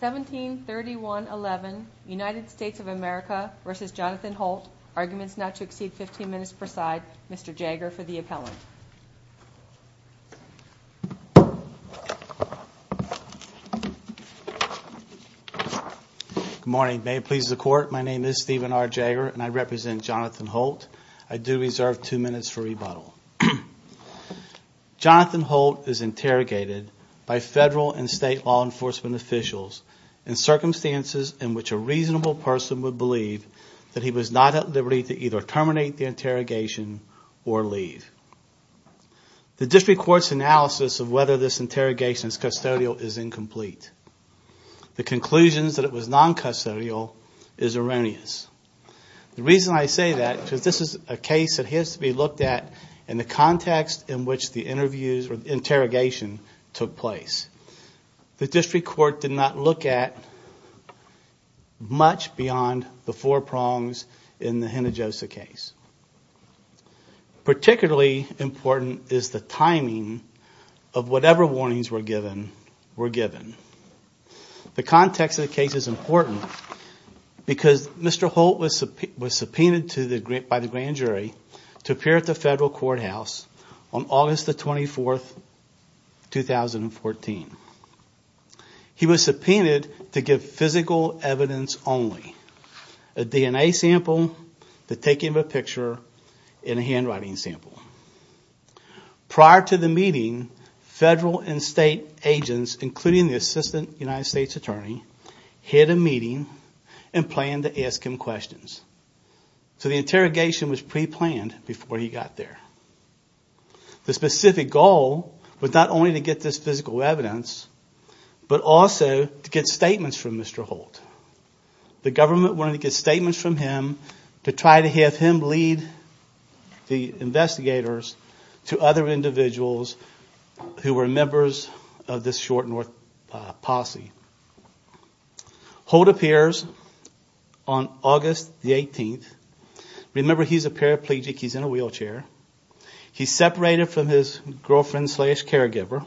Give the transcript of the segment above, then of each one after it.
1731.11 United States of America v. Johnathan Holt Arguments not to exceed 15 minutes per side. Mr. Jagger for the appellant. Good morning. May it please the court, my name is Stephen R. Jagger and I represent Johnathan Holt. I do reserve two minutes for rebuttal. Johnathan Holt is interrogated by federal and state law enforcement officials in circumstances in which a reasonable person would believe that he was not at liberty to either terminate the interrogation or leave. The district court's analysis of whether this interrogation is custodial is incomplete. The conclusions that it was non-custodial is erroneous. The reason I say that is because this is a case that has to be looked at in the context in which the interviews or interrogation took place. The district court did not look at much beyond the four prongs in the Hinojosa case. Particularly important is the timing of whatever warnings were given. The context of the case is important because Mr. Holt was subpoenaed by the grand jury to appear at the federal courthouse on August 24, 2014. He was subpoenaed to give physical evidence only. A DNA sample, the taking of a picture, and a handwriting sample. Prior to the meeting, federal and state agents, including the Assistant United States Attorney, had a meeting and plan to ask him questions. So the interrogation was pre-planned before he got there. The specific goal was not only to get this physical evidence, but also to get statements from Mr. Holt. The government wanted to get statements from him to try to have him lead the investigators to other individuals who were members of this short North posse. Holt appears on August 18. Remember, he's a paraplegic, he's in a wheelchair. He's separated from his girlfriend slash caregiver.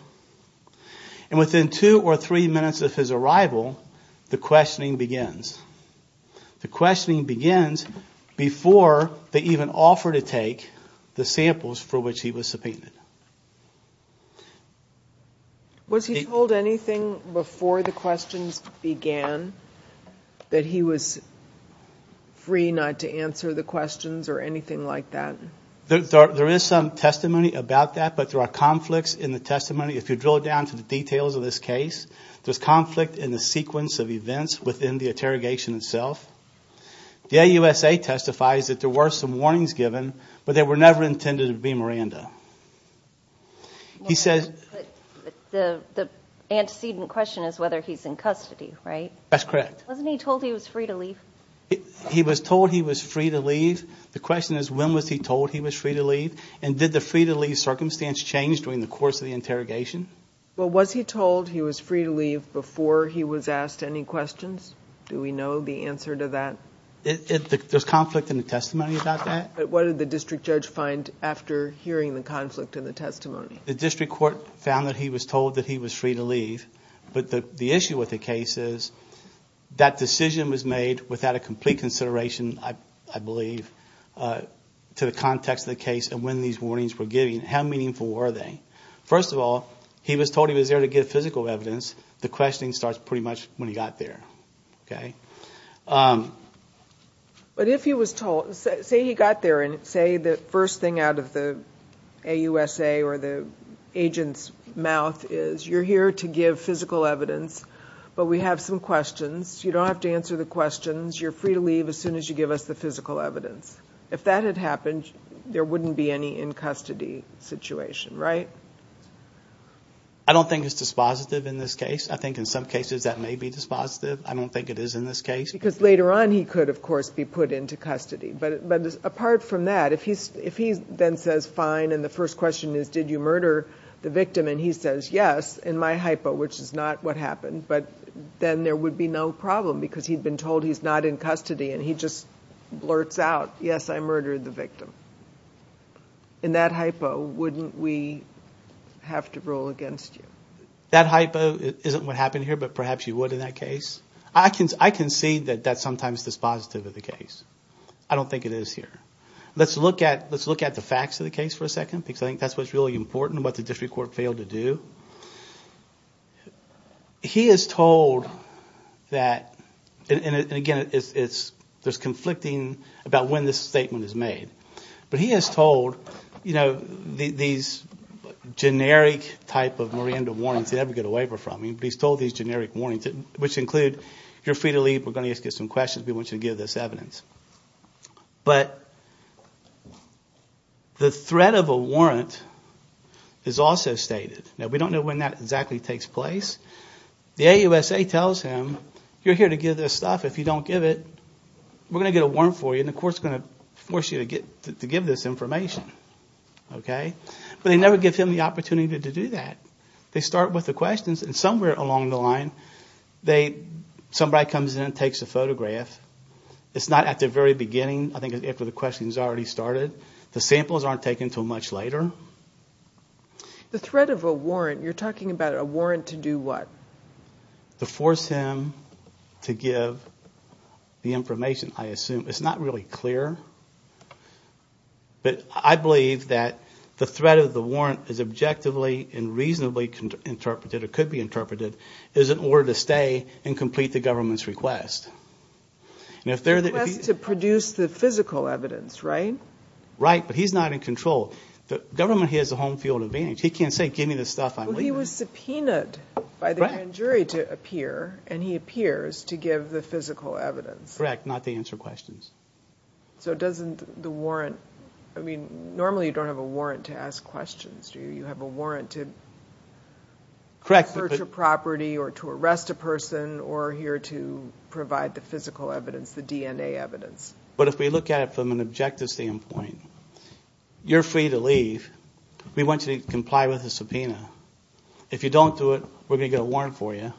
And within two or three minutes of his arrival, the questioning begins. The questions for which he was subpoenaed. Was he told anything before the questions began? That he was free not to answer the questions or anything like that? There is some testimony about that, but there are conflicts in the testimony. If you drill down to the details of this case, there's conflict in the sequence of events within the interrogation itself. The AUSA testifies that there were some warnings given, but they were never intended to be Miranda. The antecedent question is whether he's in custody, right? That's correct. Wasn't he told he was free to leave? He was told he was free to leave. The question is, when was he told he was free to leave? And did the free to leave circumstance change during the course of the interrogation? Well, was he told he was free to leave before he was asked any questions? Do we know the answer to that? There's conflict in the testimony about that? But what did the district judge find after hearing the conflict in the testimony? The district court found that he was told that he was free to leave, but the issue with the case is that decision was made without a complete consideration, I believe, to the context of the case and when these warnings were given. How meaningful were they? First of all, he was told he was there to get physical evidence. The questioning starts pretty much when he got there, okay? But if he was told, say he got there and say the first thing out of the AUSA or the agent's mouth is, you're here to give physical evidence, but we have some questions. You don't have to answer the questions. You're free to leave as soon as you give us the physical evidence. If that had happened, there wouldn't be any in custody situation, right? I don't think it's dispositive in this case. I think in some cases that may be dispositive. I don't think it is in this case. Because later on he could, of course, be put into custody. But apart from that, if he then says fine and the first question is did you murder the victim and he says yes, in my hypo, which is not what happened, but then there would be no problem because he'd been told he's not in custody and he just blurts out, yes, I murdered the victim. In that hypo, wouldn't we have to rule against you? That hypo isn't what happened here, but perhaps you would in that case. I can see that that's sometimes dispositive of the case. I don't think it is here. Let's look at the facts of the case for a second because I think that's what's really important and what the district court failed to do. He is told that, and again there's conflicting about when this statement is made, but he is told these generic type of Miranda warrants he'd never get a waiver from. He's told these generic warrants which include you're free to leave, we're going to ask you some questions, we want you to give this evidence. But the threat of a warrant is also stated. Now, we don't know when that exactly takes place. The AUSA tells him you're here to give this stuff, if you don't give it, we're going to get a warrant for you and the court's going to force you to give this information. But they never give him the opportunity to do that. They start with the questions and somewhere along the line somebody comes in and takes a photograph. It's not at the very beginning, I think after the question's already started. The samples aren't taken until much later. The threat of a warrant, you're talking about a warrant to do what? To force him to give the information, I assume. It's not really clear, but I believe that the threat of the warrant is objectively and reasonably interpreted, or could be interpreted, is in order to stay and complete the government's request. A request to produce the physical evidence, right? Right, but he's not in control. The government has a home field advantage. He can't say give me this stuff, I'm leaving. He was subpoenaed by the grand jury to appear and he appears to give the physical evidence. Correct, not to answer questions. So normally you don't have a warrant to ask questions, do you? You have a warrant to search a property or to arrest a person or here to provide the physical evidence, the DNA evidence. But if we look at it from an objective standpoint, you're free to leave. We want you to comply with the subpoena. If you don't do it, we're going to get a warrant for you.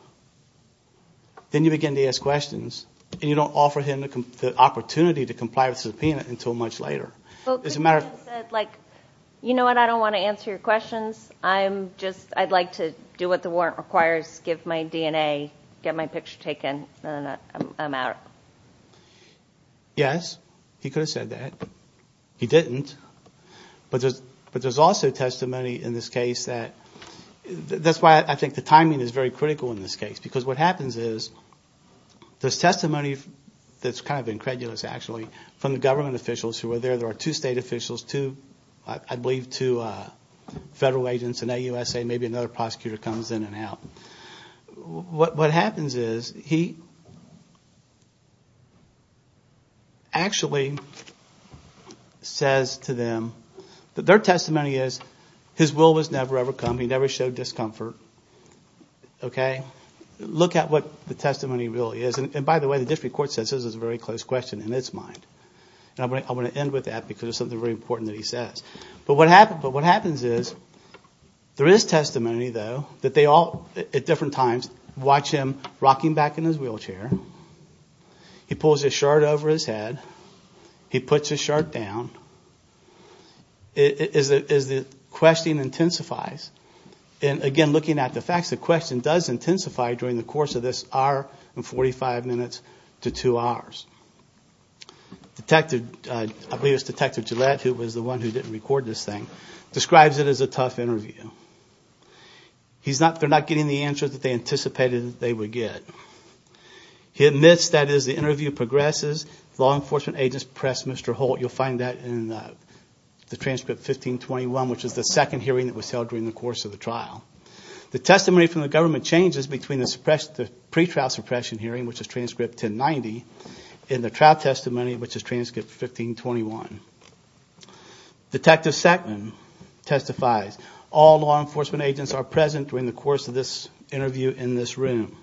Then you begin to ask questions, and you don't offer him the opportunity to comply with the subpoena until much later. But could he have said, you know what, I don't want to answer your questions. I'd like to do what the warrant requires, give my DNA, get my picture taken, and I'm out? Yes, he could have said that. He didn't. But there's also testimony in this case that, that's why I think the timing is very critical in this case, because what happens is there's testimony that's kind of incredulous, actually, from the government officials who were there. There are two state officials, two, I believe, two federal agents in AUSA, maybe another prosecutor comes in and out. What happens is he actually says to them that their testimony is his will was never ever come, he never showed discomfort. Okay? Look at what the testimony really is. And by the way, the district court says this is a very close question in its mind. And I want to end with that because it's something very important that he says. But what happens is there is testimony, though, that they all, at different times, watch him rocking back in his wheelchair. He pulls his shirt over his head. He puts his shirt down. It is, the question intensifies. And again, looking at the facts, the question does intensify during the course of this hour and 45 minutes to two hours. Detective, I believe it's Detective Gillette, who was the one who didn't record this thing, describes it as a tough interview. He's not, they're not getting the answers that they anticipated that they would get. He admits that as the interview progresses, law enforcement agents press Mr. Holt. You'll find that in the transcript 1521, which is the second hearing that was held during the course of the trial. The testimony from the government changes between the pre-trial suppression hearing, which is transcript 1090, and the trial testimony, which is transcript 1521. Detective Sackman testifies, all law enforcement agents are present during the course of this interview in this room.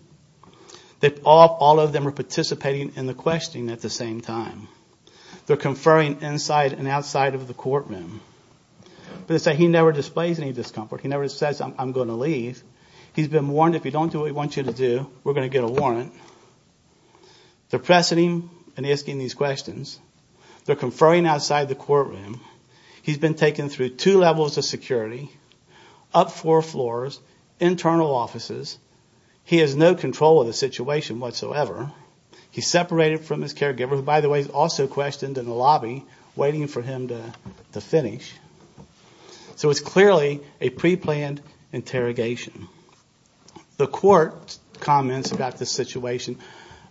All of them are participating in the questioning at the same time. They're conferring inside and outside of the courtroom. But as I say, he never displays any discomfort. He never says, I'm going to leave. He's been warned, if you don't do what we want you to do, we're going to get a warrant. They're pressing him and asking these questions. They're conferring outside the courtroom. He's been taken through two levels of security, up four floors, internal offices. He has no control of the situation whatsoever. He's separated from his caregiver, who by the way is also questioned in the lobby, waiting for him to finish. So it's clearly a pre-planned interrogation. The court comments about this situation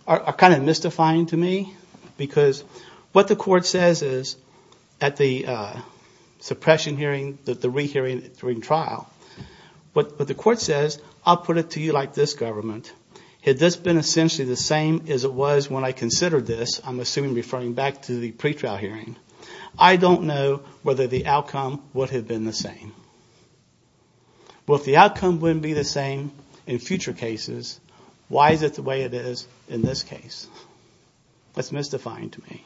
are kind of mystifying to me, because what the court says is, at the suppression hearing, the re-hearing during trial, what the court says, I'll put it to you like this, government. Had this been essentially the same as it was when I considered this, I'm assuming referring back to the pre-trial hearing, I don't know whether the outcome would have been the same. Well if the outcome wouldn't be the same in future cases, why is it the way it is in this case? That's mystifying to me.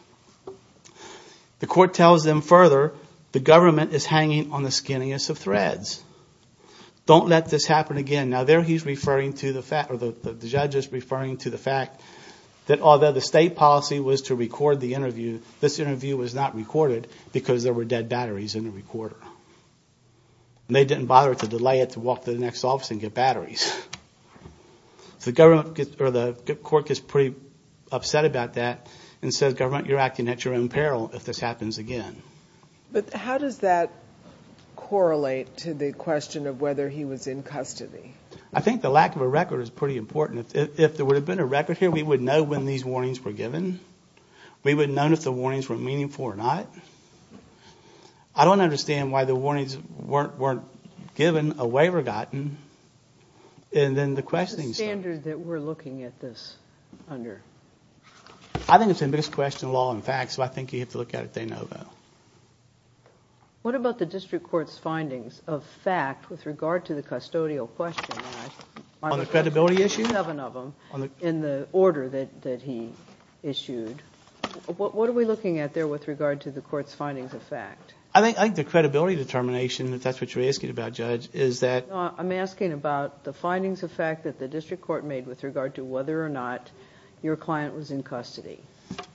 The court tells them further, the government is hanging on the skinniest of threads. Don't let this happen again. Now there he's referring to the fact, or the judge is referring to the fact, that although the state policy was to record the interview, this interview was not recorded because there were dead batteries in the recorder. And they didn't bother to delay it to walk to the next office and get batteries. So the court gets pretty upset about that and says government, you're acting at your own peril if this happens again. But how does that correlate to the question of whether he was in custody? I think the lack of a record is pretty important. If there would have been a record here, we would know when these warnings were given. We would have known if the warnings were meaningful or not. I don't understand why the warnings weren't given, a waiver gotten, and then the questioning started. What's the standard that we're looking at this under? I think it's the biggest question in law and facts, so I think you have to look at it day and over. What about the district court's findings of fact with regard to the custodial question? On the credibility issue? You have another one in the order that he issued. What are we looking at there with regard to the court's findings of fact? I think the credibility determination, if that's what you're asking about, Judge, is that... No, I'm asking about the findings of fact that the district court made with regard to whether or not your client was in custody.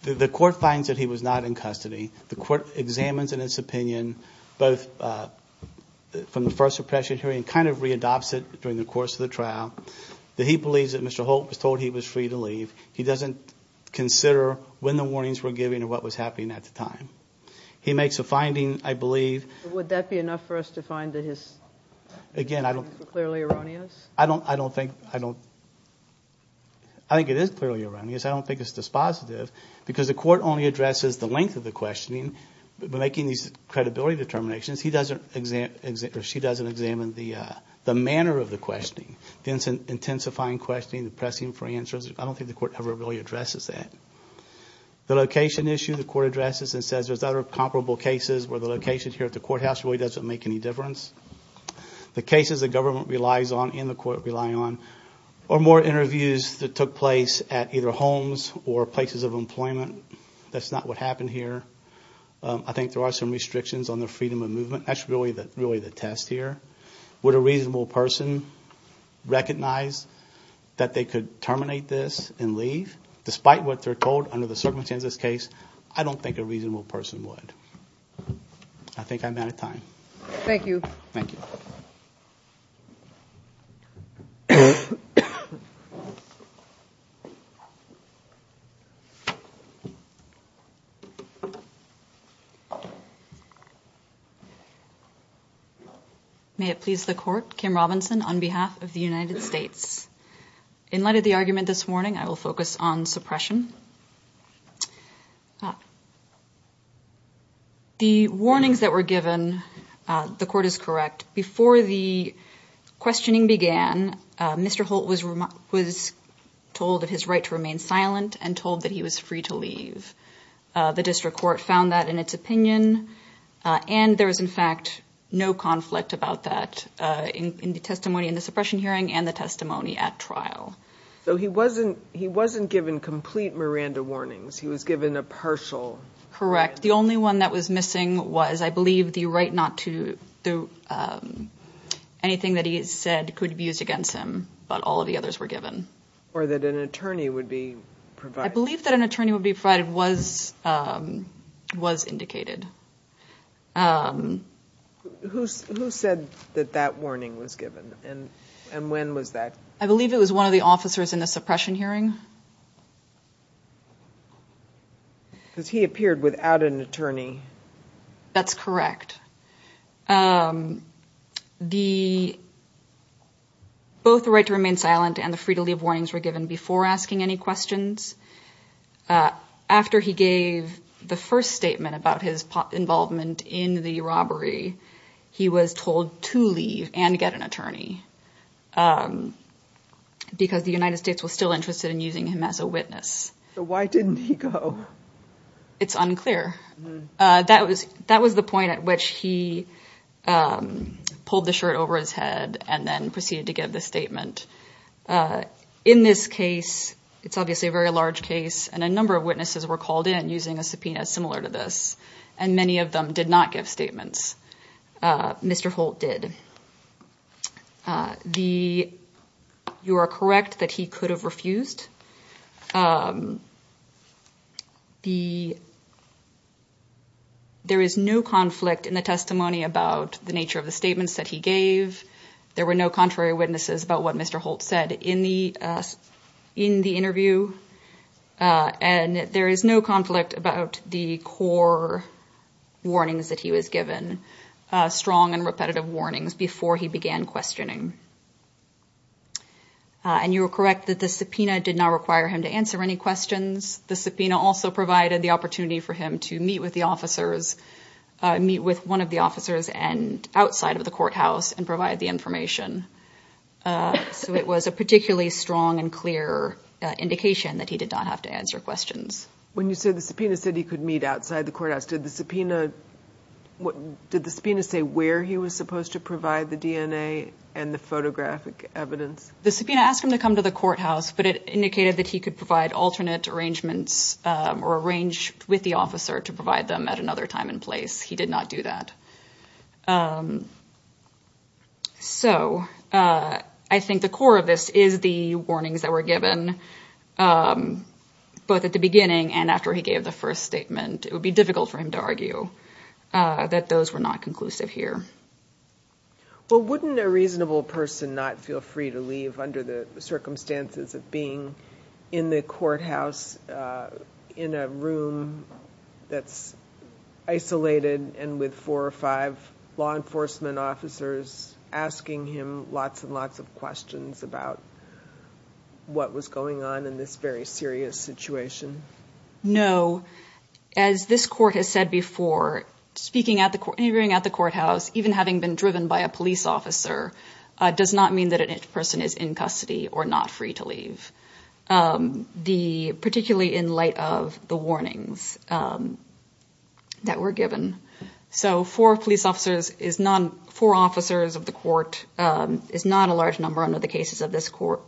The court finds that he was not in custody. The court examines in its opinion, both from the first suppression hearing and kind of readopts it during the course of the trial, that he believes that Mr. Holt was told he was free to leave. He doesn't consider when the warnings were given or what was happening at the time. He makes a finding, I believe... Would that be enough for us to find that his findings were clearly erroneous? I don't think it is clearly erroneous. I don't think it's dispositive because the court only addresses the length of the questioning. By making these credibility determinations, she doesn't examine the manner of the questioning. The intensifying questioning, the pressing for answers, I don't think the court ever really addresses that. The location issue, the court addresses and says there's other comparable cases where the location here at the courthouse really doesn't make any difference. The cases the government relies on and the court relies on are more interviews that took place at either homes or places of employment. That's not what happened here. I think there are some restrictions on the freedom of movement. That's really the test here. Would a reasonable person recognize that they could terminate this and leave? Despite what they're told under the circumstances of this case, I don't think a reasonable person would. I think I'm out of time. Thank you. Thank you. May it please the court, Kim Robinson on behalf of the United States. In light of the argument this morning, I will focus on suppression. The warnings that were given, the court is correct. Before the questioning began, Mr. Holt was told of his right to remain silent and told that he was free to leave. The district court found that in its opinion and there was in fact no conflict about that in the testimony in the suppression hearing and the testimony at trial. He wasn't given complete Miranda warnings. He was given a partial. Correct. The only one that was missing was I believe the right not to do anything that he said could be used against him, but all of the others were given. Or that an attorney would be provided. I believe that an attorney would be provided was indicated. Who said that that warning was given and when was that? I believe it was one of the officers in the suppression hearing. Because he appeared without an attorney. That's correct. Both the right to remain silent and the free to leave warnings were given before asking any questions. After he gave the first statement about his involvement in the robbery, he was told to leave and get an attorney. Because the United States was still interested in using him as a witness. Why didn't he go? It's unclear. That was the point at which he pulled the shirt over his head and then proceeded to give the statement. In this case, it's obviously a very large case and a number of witnesses were called in using a subpoena similar to this and many of them did not give statements. Mr. Holt did. You are correct that he could have refused. There is no conflict in the testimony about the nature of the statements that he gave. There were no contrary witnesses about what Mr. Holt said in the interview. And there is no conflict about the core warnings that he was given. Strong and repetitive warnings before he began questioning. And you are correct that the subpoena did not require him to answer any questions. The subpoena also provided the opportunity for him to meet with the officers, meet with one of the officers outside of the courthouse and provide the information. So it was a particularly strong and clear indication that he did not have to answer questions. When you said the subpoena said he could meet outside the courthouse, did the subpoena say where he was supposed to provide the DNA and the photographic evidence? The subpoena asked him to come to the courthouse but it indicated that he could provide alternate arrangements or arrange with the officer to provide them at another time and place. He did not do that. So I think the core of this is the warnings that were given both at the beginning and after he gave the first statement. It would be difficult for him to argue that those were not conclusive here. Well, wouldn't a reasonable person not feel free to leave under the circumstances of being in the courthouse in a room that's isolated and with four or five law enforcement officers asking him lots and lots of questions about what was going on in this very serious situation? No. As this court has said before, interviewing at the courthouse, even having been driven by a police officer, does not mean that a person is in custody or not free to leave, particularly in light of the warnings that were given. So four officers of the court is not a large number under the cases of this court.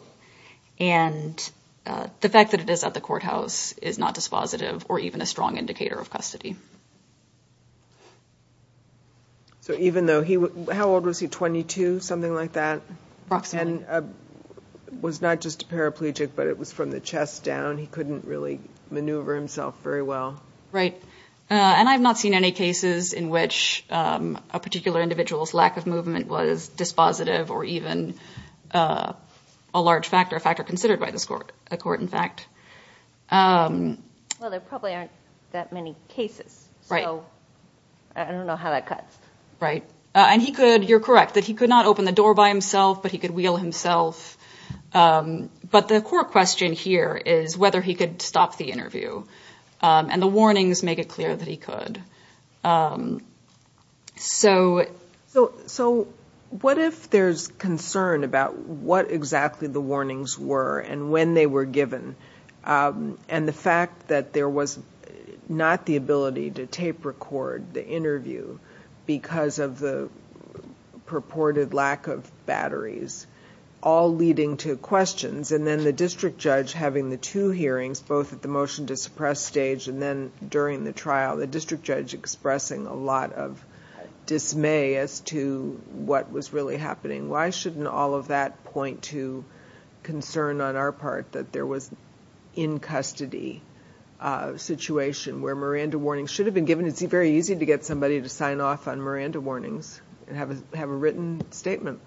And the fact that it is at the courthouse is not dispositive or even a strong indicator of custody. So how old was he? Something like that? Approximately. And was not just a paraplegic but it was from the chest down. He couldn't really maneuver himself very well. Right. And I've not seen any cases in which a particular individual's lack of movement was dispositive or even a large factor, a factor considered by this court, a court in fact. Well, there probably aren't that many cases. Right. So I don't know how that cuts. Right. And he could, you're correct, that he could not open the door by himself, but he could wheel himself. But the core question here is whether he could stop the interview. And the warnings make it clear that he could. So... So what if there's concern about what exactly the warnings were and when they were given? And the fact that there was not the ability to tape record the interview because of the purported lack of batteries, all leading to questions. And then the district judge having the two hearings, both at the motion to suppress stage and then during the trial, the district judge expressing a lot of dismay as to what was really happening. Why shouldn't all of that point to concern on our part that there was in custody situation where Miranda warnings should have been given? It's very easy to get somebody to sign off on Miranda warnings and have a written statement.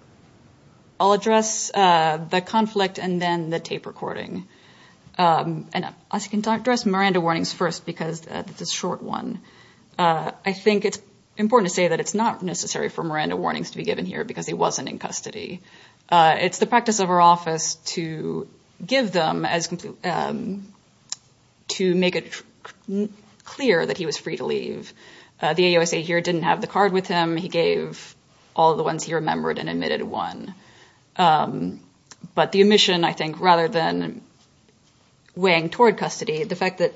I'll address the conflict and then the tape recording. And I'll address Miranda warnings first because this is a short one. I think it's important to say that it's not necessary for Miranda warnings to be given here because he wasn't in custody. It's the practice of our office to give them as to make it clear that he was free to leave. The AOSA here didn't have the card with him. He gave all the ones he remembered and admitted one. But the omission, I think, rather than weighing toward custody, the fact that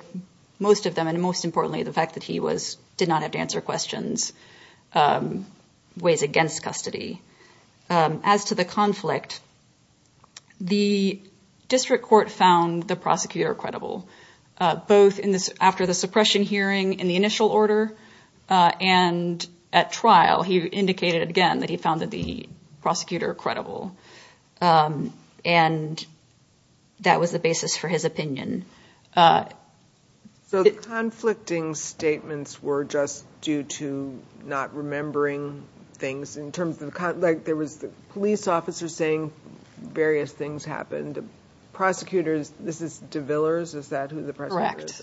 most of them and most importantly, the fact that he did not have to answer questions weighs against custody. As to the conflict, the district court found the prosecutor credible, both after the suppression hearing in the initial order and at trial, he indicated again that he found the prosecutor credible. And that was the basis for his opinion. So conflicting statements were just due to not remembering things in terms of like there was the police officer saying various things happened. Prosecutors. This is DeVillers. Is that correct?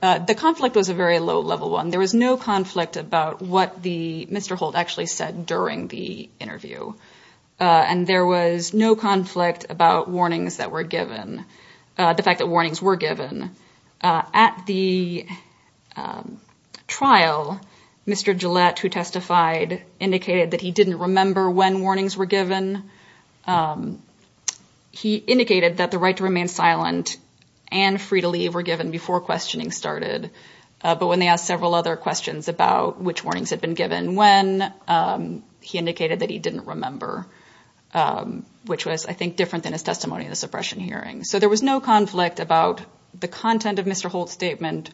The conflict was a very low level one. There was no conflict about what the Mr. Holt actually said during the interview. And there was no conflict about warnings that were given. The fact that warnings were given at the trial. Mr. Gillette, who testified, indicated that he didn't remember when warnings were given. He indicated that the right to remain silent and free to leave were given before questioning started. But when they asked several other questions about which warnings had been given, when he indicated that he didn't remember, which was, I think, different than his testimony in the suppression hearing. So there was no conflict about the content of Mr. Holt's statement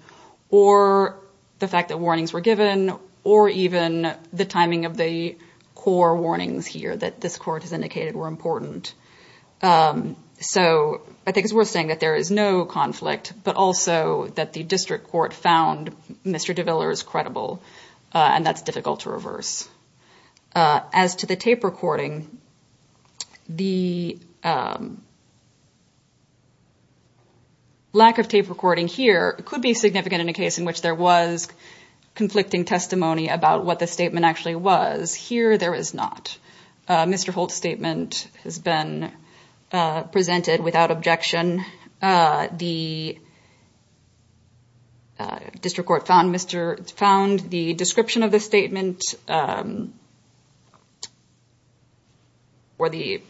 or the fact that warnings were given or even the timing of the core warnings here that this court has indicated were important. So I think it's worth saying that there is no conflict, but also that the district court found Mr. DeVillers credible. And that's difficult to reverse. As to the tape recording, the lack of tape recording here could be significant in a case in which there was conflicting testimony about what the statement actually was. Here, there is not. Mr. Holt's statement has been presented without objection. The district court found the description of the statement or the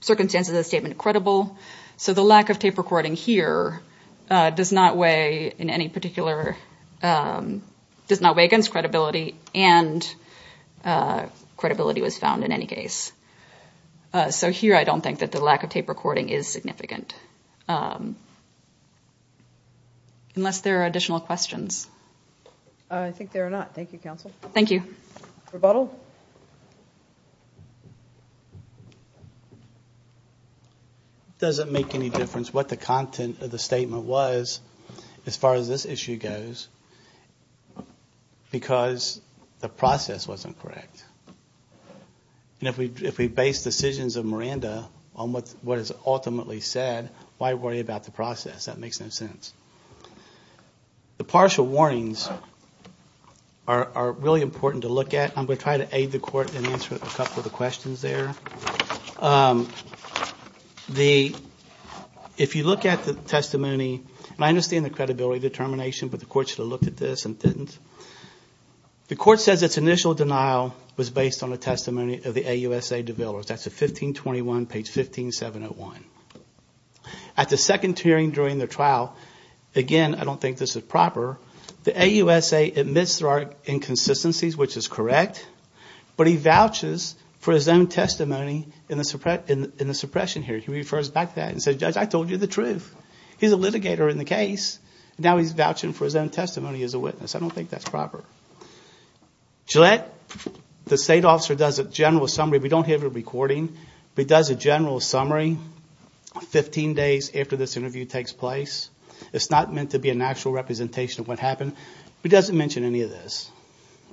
circumstances of the statement credible. So the lack of tape recording here does not weigh against credibility and credibility was found in any case. So here, I don't think that the lack of tape recording is significant, unless there are additional questions. I think there are not. Thank you, counsel. Thank you. Rebuttal? It doesn't make any difference what the content of the statement was as far as this issue goes, because the process wasn't correct. And if we base decisions of Miranda on what is ultimately said, why worry about the process? That makes no sense. The partial warnings are really important to look at. I'm going to try to aid the court in answering a couple of the questions there. If you look at the testimony, and I understand the credibility determination, but the court should have looked at this and didn't. The court says its initial denial was based on the testimony of the AUSA developers. That's at 1521, page 15701. At the second hearing during the trial, again, I don't think this is proper, the AUSA admits there are inconsistencies, which is correct, but he vouches for his own testimony in the suppression hearing. He refers back to that and says, Judge, I told you the truth. He's a litigator in the case, and now he's vouching for his own testimony as a witness. I don't think that's proper. Gillette, the state officer, does a general summary. We don't have it recording, but he does a general summary 15 days after this interview takes place. It's not meant to be an actual representation of what happened, but he doesn't mention any of this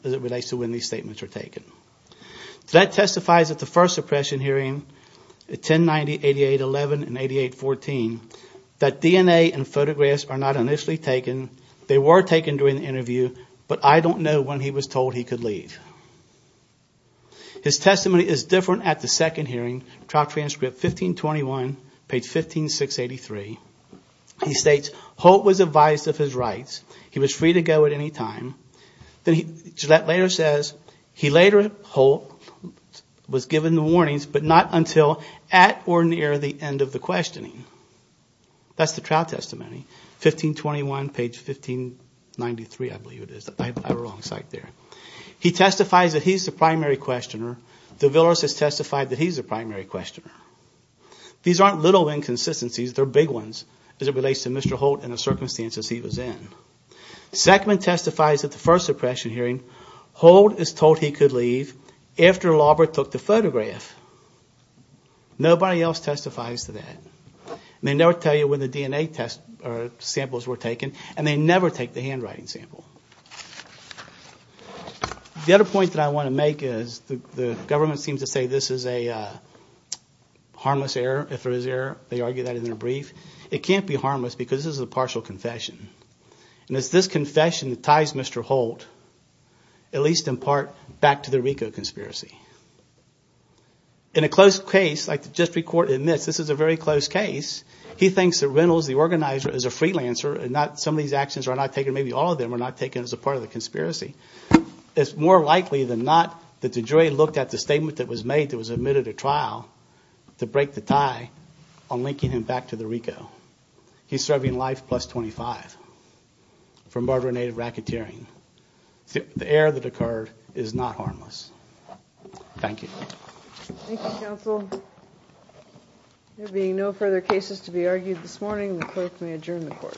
as it relates to when these statements were taken. Gillette testifies at the first suppression hearing, 1090, 8811, and 8814, that DNA and photographs are not initially taken. They were taken during the interview, but I don't know when he was told he could leave. His testimony is different at the second hearing, trial transcript 1521, page 15683. He states, Holt was advised of his rights. He was free to go at any time. Gillette later says, he later, Holt, was given the warnings, but not until at or near the end of the questioning. That's the trial testimony. 1521, page 1593, I believe it is. I have the wrong site there. He testifies that he's the primary questioner. DeVillers has testified that he's the primary questioner. These aren't little inconsistencies, they're big ones as it relates to Mr. Holt and the circumstances he was in. Zeckman testifies at the first suppression hearing, Holt is told he could leave after Laubert took the photograph. Nobody else testifies to that. They never tell you when the DNA samples were taken and they never take the handwriting sample. The other point that I want to make is the government seems to say this is a harmless error. If there is error, they argue that in their brief. It can't be harmless because this is a partial confession. It's this confession that ties Mr. Holt, at least in part, back to the RICO conspiracy. In a close case, like the district court admits, this is a very close case, he thinks that Reynolds, the organizer, is a freelancer and some of these actions are not taken, maybe all of them are not taken as a part of the conspiracy. It's more likely than not that DeJoy looked at the statement that was made that was admitted to trial to break the tie on linking him back to the RICO. He's serving life plus 25 for murder and aid of racketeering. The error that occurred is not harmless. Thank you. Thank you, counsel. There being no further cases to be argued this morning, the clerk may adjourn the court.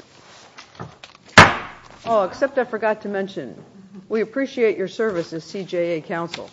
Oh, except I forgot to mention, we appreciate your service as CJA counsel.